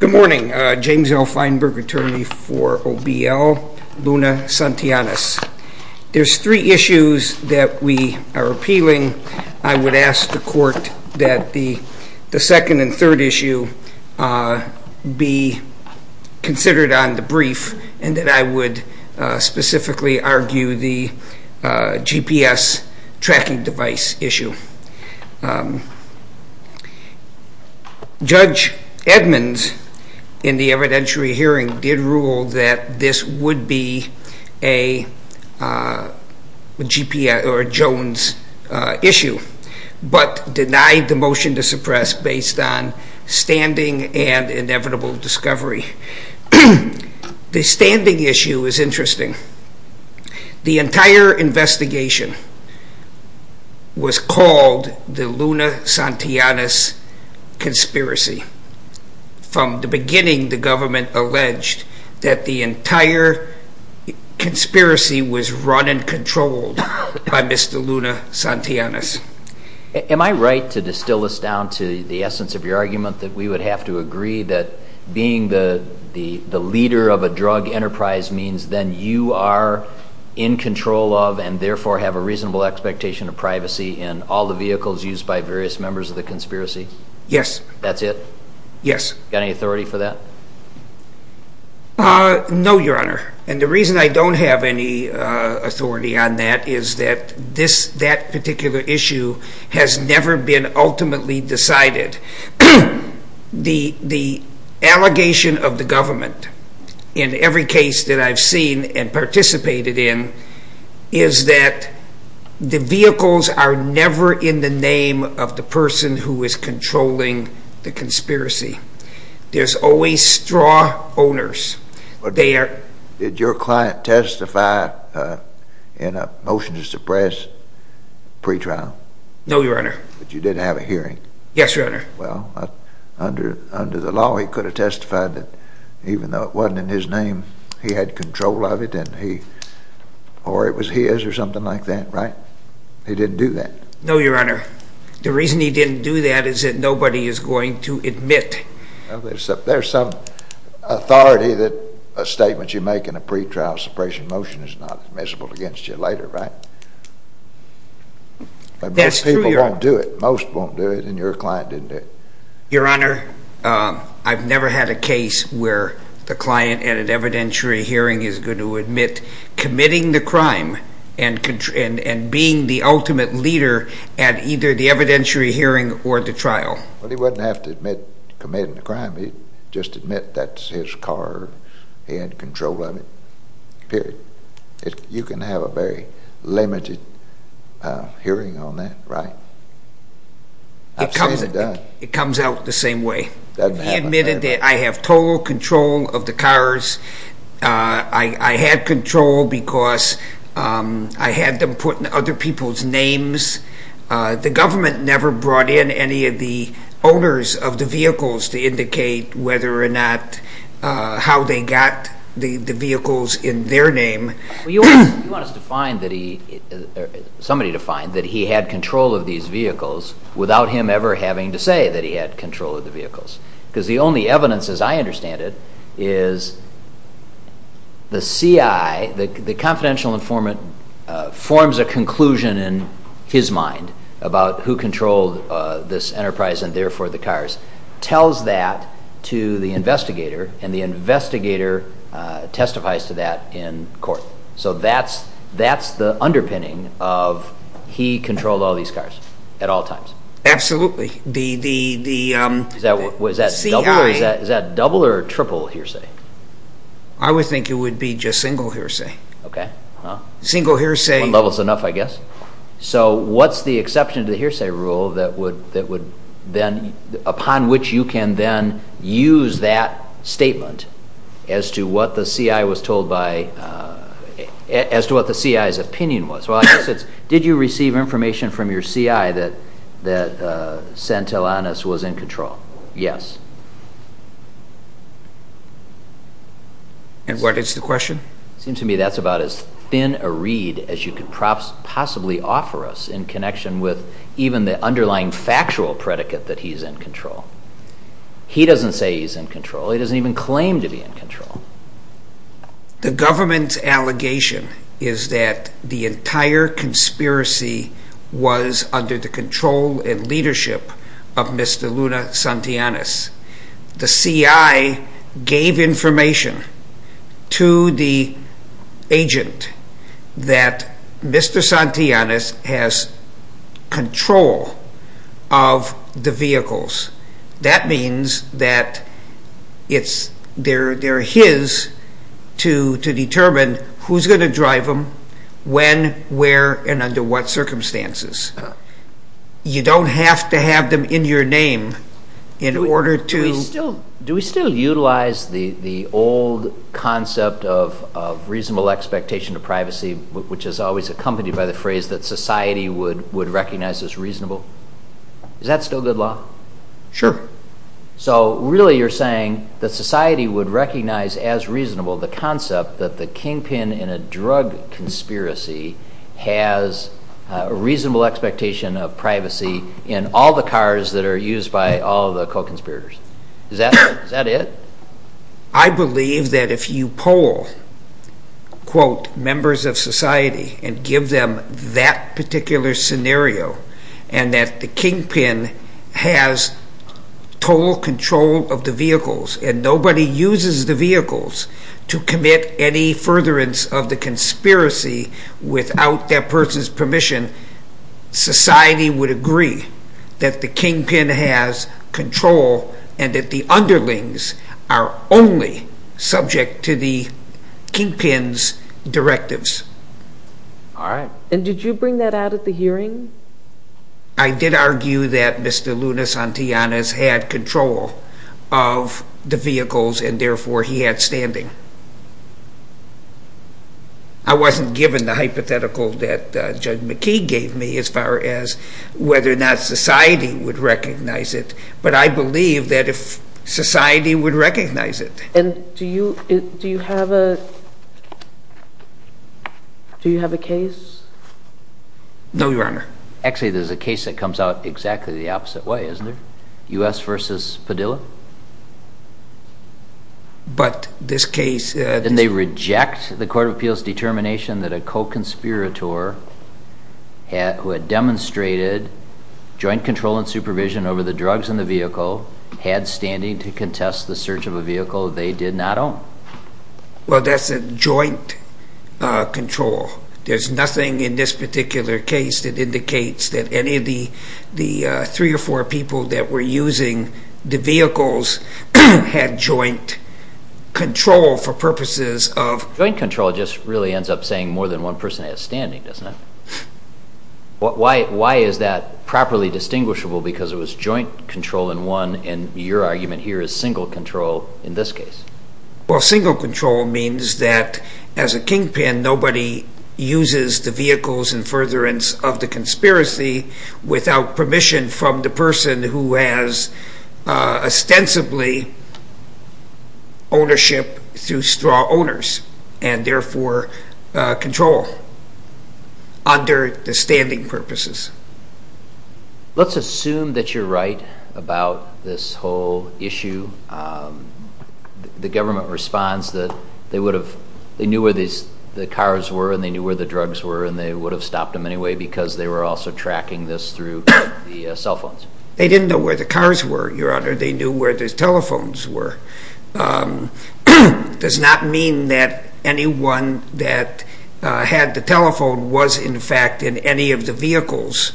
Good morning, James L. Feinberg, attorney for Obiel Luna Santillanes. There's three issues that we are appealing. I would ask the court that the second and third issue be considered on the brief and that I would specifically argue the GPS tracking device issue. Judge Edmonds in the evidentiary hearing did rule that this would be a Jones issue, but denied the motion to suppress based on standing and inevitable discovery. The standing issue is interesting. The entire investigation was called the Luna Santillanes conspiracy. From the beginning, the government alleged that the entire conspiracy was run and controlled by Mr. Luna Santillanes. Am I right to distill this down to the essence of your argument that we would have to agree that being the leader of a drug enterprise means that you are in control of and therefore have a reasonable expectation of privacy in all the vehicles used by various members of the conspiracy? Yes. That's it? Yes. Got any authority for that? No, Your Honor. And the reason I don't have any authority on that is that that particular issue has never been ultimately decided. The allegation of the government in every case that I've seen and participated in is that the vehicles are never in the name of the person who is controlling the conspiracy. There's always straw owners. Did your client testify in a motion to suppress pretrial? No, Your Honor. Yes, Your Honor. Well, under the law, he could have testified that even though it wasn't in his name, he had control of it or it was his or something like that, right? He didn't do that. No, Your Honor. The reason he didn't do that is that nobody is going to admit. There's some authority that a statement you make in a pretrial suppression motion is not admissible against you later, right? That's true, Your Honor. But most people won't do it. Most won't do it and your client didn't do it. Your Honor, I've never had a case where the client at an evidentiary hearing is going to admit committing the crime and being the ultimate leader at either the evidentiary hearing or the trial. Well, he wouldn't have to admit committing the crime. He'd just admit that it's his car, he had control of it, period. You can have a very limited hearing on that, right? It comes out the same way. I admit that I have total control of the cars. I had control because I had them put in other people's names. The government never brought in any of the owners of the vehicles to indicate whether or not how they got the vehicles in their name. Well, you want us to find that he, somebody to find that he had control of these vehicles without him ever having to say that he had control of the vehicles. Because the only evidence, as I understand it, is the CI, the confidential informant, forms a conclusion in his mind about who controlled this enterprise and therefore the cars, tells that to the investigator and the investigator testifies to that in court. So that's the underpinning of he controlled all these cars at all times. Absolutely. Is that double or triple hearsay? I would think it would be just single hearsay. Single hearsay. One level is enough, I guess. So what's the exception to the hearsay rule that would then, upon which you can then use that statement as to what the CI was told by, as to what the CI's opinion was? Well, I guess it's, did you receive information from your CI that Santillanes was in control? Yes. And what is the question? It seems to me that's about as thin a reed as you could possibly offer us in connection with even the underlying factual predicate that he's in control. He doesn't say he's in control. He doesn't even claim to be in control. The government's allegation is that the entire conspiracy was under the control and leadership of Mr. Luna Santillanes. The CI gave information to the agent that Mr. Santillanes has control of the vehicles. That means that it's, they're his to determine who's going to drive them, when, where, and under what circumstances. You don't have to have them in your name in order to... Do we still utilize the old concept of reasonable expectation of privacy, which is always accompanied by the phrase that society would recognize as reasonable? Is that still good law? Sure. So really you're saying that society would recognize as reasonable the concept that the kingpin in a drug conspiracy has a reasonable expectation of privacy in all the cars that are used by all the co-conspirators. Is that it? I believe that if you poll, quote, members of society and give them that particular scenario and that the kingpin has total control of the vehicles and nobody uses the vehicles to commit any furtherance of the conspiracy without that person's permission, society would agree that the kingpin has control and that the underlings are only subject to the kingpin's directives. All right. And did you bring that out at the hearing? I did argue that Mr. Luna Santillanes had control of the vehicles and therefore he had standing. I wasn't given the hypothetical that Judge McKee gave me as far as whether or not society would recognize it, but I believe that if society would recognize it. And do you have a case? No, Your Honor. Actually, there's a case that comes out exactly the opposite way, isn't there? U.S. versus Padilla? But this case... Then they reject the Court of Appeals determination that a co-conspirator who had demonstrated joint control and supervision over the drugs in the vehicle had standing to contest the search of a vehicle they did not own. Well, that's a joint control. There's nothing in this particular case that indicates that any of the three or four people that were using the vehicles had joint control for purposes of... Joint control just really ends up saying more than one person has standing, doesn't it? Why is that properly distinguishable because it was joint control in one and your argument here is single control in this case? Well, single control means that as a kingpin, nobody uses the vehicles in furtherance of the conspiracy without permission from the person who has ostensibly ownership through straw owners and therefore control under the standing purposes. Let's assume that you're right about this whole issue. The government responds that they would have... They knew where the cars were and they knew where the drugs were and they would have stopped them anyway because they were also tracking this through the cell phones. They didn't know where the cars were, Your Honor. They knew where the telephones were. It does not mean that anyone that had the telephone was in fact in any of the vehicles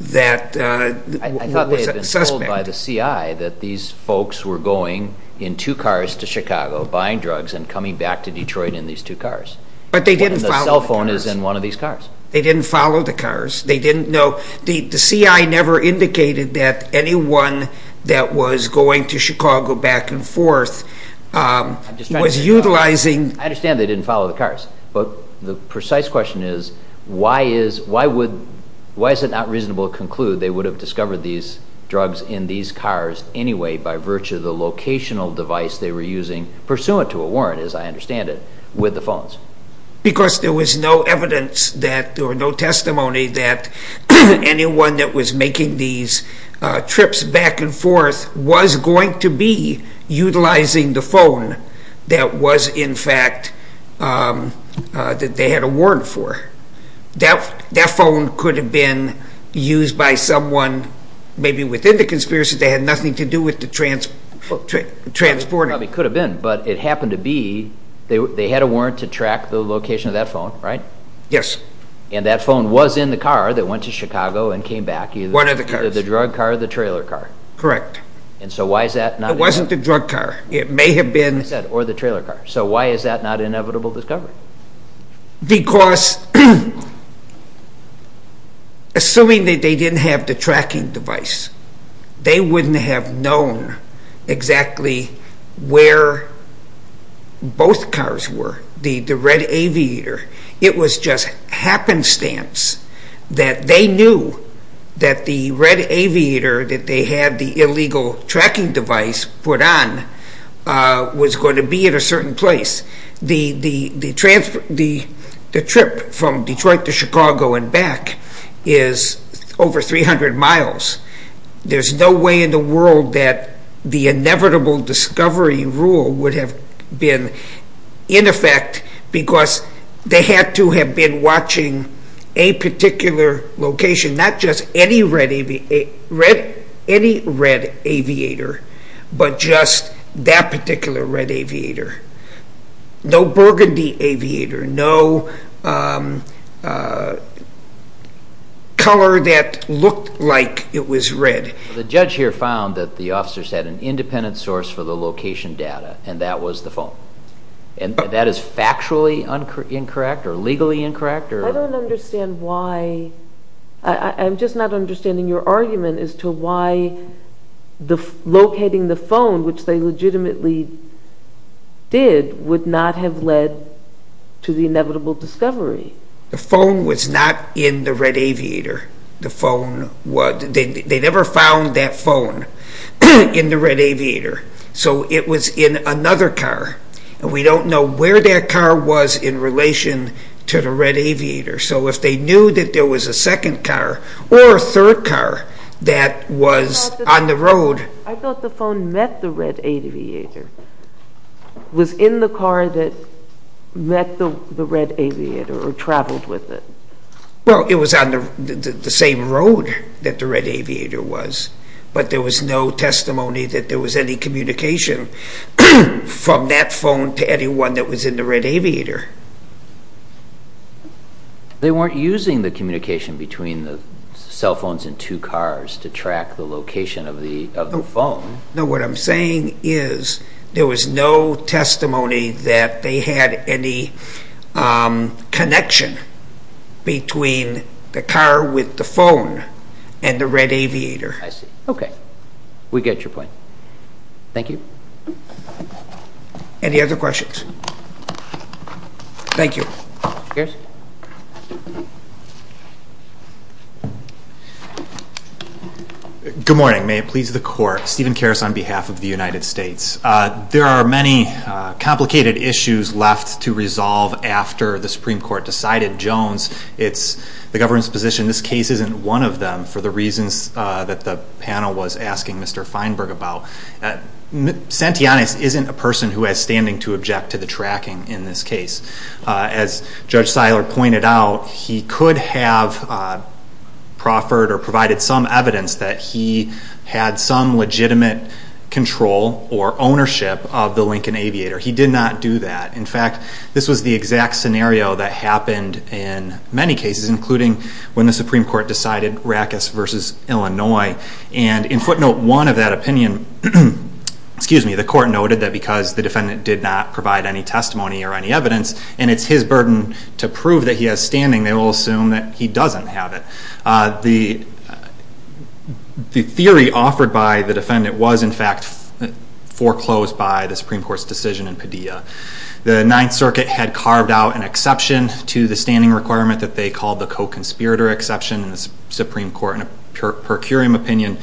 that was a suspect. I thought they had been told by the CI that these folks were going in two cars to Chicago, buying drugs and coming back to Detroit in these two cars. But they didn't follow the cars. The cell phone is in one of these cars. They didn't follow the cars. The CI never indicated that anyone that was going to Chicago back and forth was utilizing... I understand they didn't follow the cars. But the precise question is, why is it not reasonable to conclude they would have discovered these drugs in these cars anyway by virtue of the locational device they were using, pursuant to a warrant as I understand it, with the phones? Because there was no evidence or no testimony that anyone that was making these trips back and forth was going to be utilizing the phone that they had a warrant for. That phone could have been used by someone maybe within the conspiracy. They had nothing to do with the transporting. It probably could have been, but it happened to be they had a warrant to track the location of that phone, right? Yes. And that phone was in the car that went to Chicago and came back. One of the cars. The drug car or the trailer car. Correct. And so why is that not... It wasn't the drug car. It may have been... Or the trailer car. So why is that not an inevitable discovery? Because assuming that they didn't have the tracking device, they wouldn't have known exactly where both cars were. The red aviator. It was just happenstance that they knew that the red aviator that they had the illegal tracking device put on was going to be at a certain place. The trip from Detroit to Chicago and back is over 300 miles. There's no way in the world that the inevitable discovery rule would have been in effect because they had to have been watching a particular location, not just any red aviator, but just that particular red aviator. No burgundy aviator. No color that looked like it was red. The judge here found that the officers had an independent source for the location data, and that was the phone. And that is factually incorrect or legally incorrect? I don't understand why. I'm just not understanding your argument as to why locating the phone, which they legitimately did, would not have led to the inevitable discovery. The phone was not in the red aviator. They never found that phone in the red aviator. So it was in another car, and we don't know where that car was in relation to the red aviator. So if they knew that there was a second car or a third car that was on the road... I thought the phone met the red aviator. It was in the car that met the red aviator or traveled with it. Well, it was on the same road that the red aviator was, but there was no testimony that there was any communication from that phone to anyone that was in the red aviator. They weren't using the communication between the cell phones and two cars to track the location of the phone. No, what I'm saying is there was no testimony that they had any connection between the car with the phone and the red aviator. I see. Okay. We get your point. Thank you. Any other questions? Thank you. Yes. Good morning. May it please the Court. Steven Karas on behalf of the United States. There are many complicated issues left to resolve after the Supreme Court decided Jones is the government's position. This case isn't one of them for the reasons that the panel was asking Mr. Feinberg about. Santillanes isn't a person who has standing to object to the tracking in this case. As Judge Seiler pointed out, he could have proffered or provided some evidence that he had some legitimate control or ownership of the Lincoln aviator. He did not do that. In fact, this was the exact scenario that happened in many cases, including when the Supreme Court decided Rackus v. Illinois. In footnote one of that opinion, the Court noted that because the defendant did not provide any testimony or any evidence, and it's his burden to prove that he has standing, they will assume that he doesn't have it. The theory offered by the defendant was in fact foreclosed by the Supreme Court's decision in Padilla. The Ninth Circuit had carved out an exception to the standing requirement that they called the co-conspirator exception. The Supreme Court, in a per curiam opinion,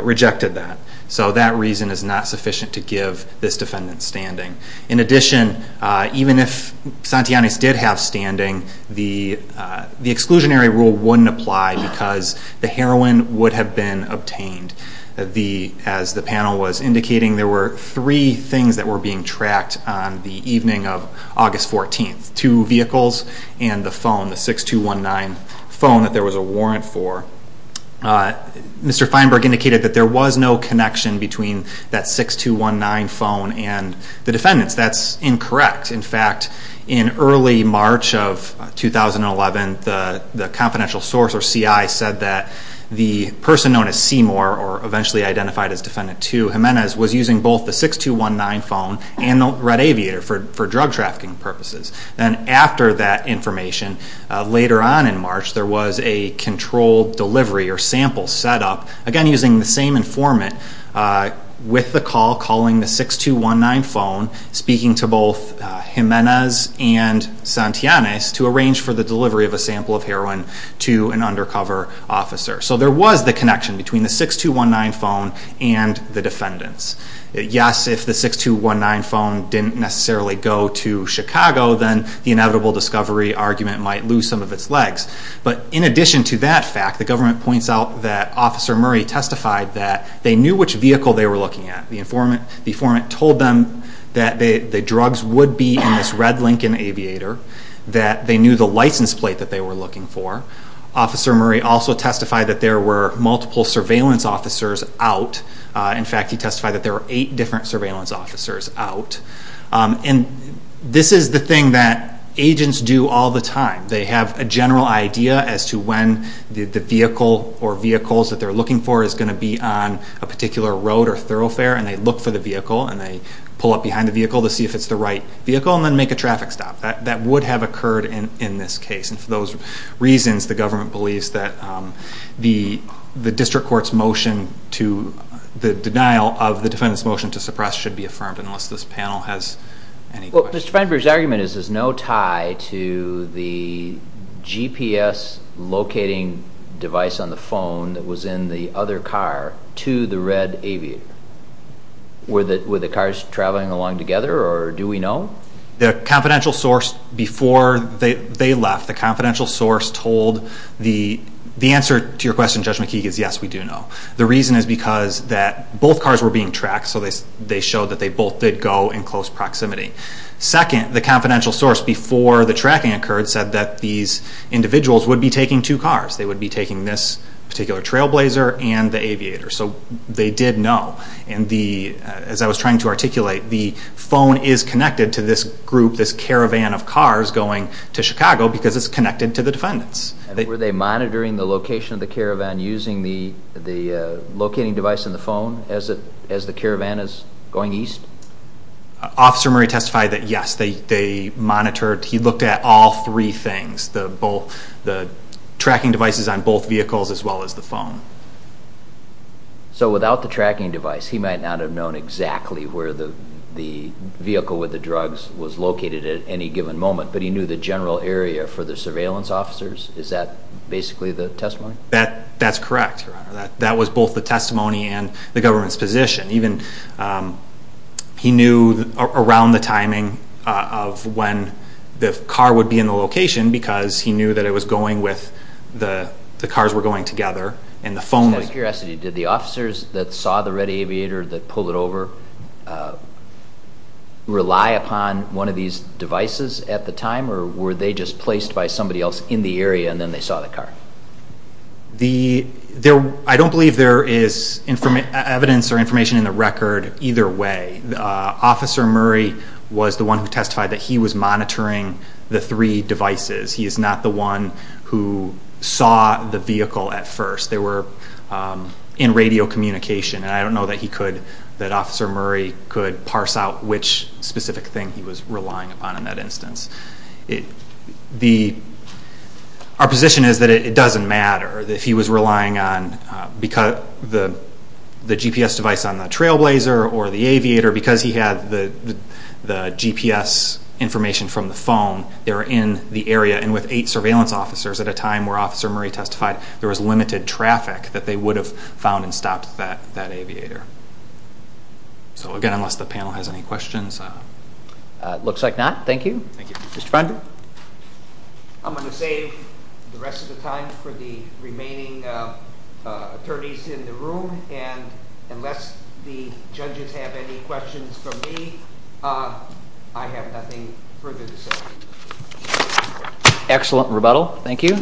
rejected that. So that reason is not sufficient to give this defendant standing. In addition, even if Santillanes did have standing, the exclusionary rule wouldn't apply because the heroin would have been obtained. As the panel was indicating, there were three things that were being tracked on the evening of August 14th. The two vehicles and the phone, the 6219 phone that there was a warrant for. Mr. Feinberg indicated that there was no connection between that 6219 phone and the defendants. That's incorrect. In fact, in early March of 2011, the confidential source, or CI, said that the person known as Seymour, or eventually identified as Defendant 2, Jimenez, was using both the 6219 phone and the red aviator for drug trafficking purposes. Then after that information, later on in March, there was a controlled delivery or sample set up, again using the same informant with the call, calling the 6219 phone, speaking to both Jimenez and Santillanes to arrange for the delivery of a sample of heroin to an undercover officer. So there was the connection between the 6219 phone and the defendants. Yes, if the 6219 phone didn't necessarily go to Chicago, then the inevitable discovery argument might lose some of its legs. But in addition to that fact, the government points out that Officer Murray testified that they knew which vehicle they were looking at. The informant told them that the drugs would be in this red Lincoln aviator, that they knew the license plate that they were looking for. Officer Murray also testified that there were multiple surveillance officers out. In fact, he testified that there were eight different surveillance officers out. And this is the thing that agents do all the time. They have a general idea as to when the vehicle or vehicles that they're looking for is going to be on a particular road or thoroughfare, and they look for the vehicle and they pull up behind the vehicle to see if it's the right vehicle and then make a traffic stop. That would have occurred in this case. And for those reasons, the government believes that the district court's motion to the denial of the defendant's motion to suppress should be affirmed, unless this panel has any questions. Well, Mr. Feinberg's argument is there's no tie to the GPS locating device on the phone that was in the other car to the red aviator. Were the cars traveling along together, or do we know? The confidential source before they left, the confidential source told the answer to your question, Judge McKeague, is yes, we do know. The reason is because both cars were being tracked, so they showed that they both did go in close proximity. Second, the confidential source before the tracking occurred said that these individuals would be taking two cars. They would be taking this particular trailblazer and the aviator. So they did know. As I was trying to articulate, the phone is connected to this group, this caravan of cars going to Chicago, because it's connected to the defendants. Were they monitoring the location of the caravan using the locating device in the phone as the caravan is going east? Officer Murray testified that yes, they monitored. He looked at all three things, the tracking devices on both vehicles as well as the phone. So without the tracking device, he might not have known exactly where the vehicle with the drugs was located at any given moment, but he knew the general area for the surveillance officers? Is that basically the testimony? That's correct, Your Honor. That was both the testimony and the government's position. He knew around the timing of when the car would be in the location because he knew that it was going with the cars were going together. Just out of curiosity, did the officers that saw the red aviator that pulled it over rely upon one of these devices at the time, or were they just placed by somebody else in the area and then they saw the car? I don't believe there is evidence or information in the record either way. Officer Murray was the one who testified that he was monitoring the three devices. He is not the one who saw the vehicle at first. They were in radio communication, and I don't know that Officer Murray could parse out which specific thing he was relying upon in that instance. Our position is that it doesn't matter if he was relying on the GPS device on the trailblazer or the aviator. Because he had the GPS information from the phone, they were in the area, and with eight surveillance officers at a time where Officer Murray testified, there was limited traffic that they would have found and stopped that aviator. So again, unless the panel has any questions. Looks like not. Thank you. Mr. Feinberg. I'm going to save the rest of the time for the remaining attorneys in the room, and unless the judges have any questions for me, I have nothing further to say. Excellent rebuttal. Thank you.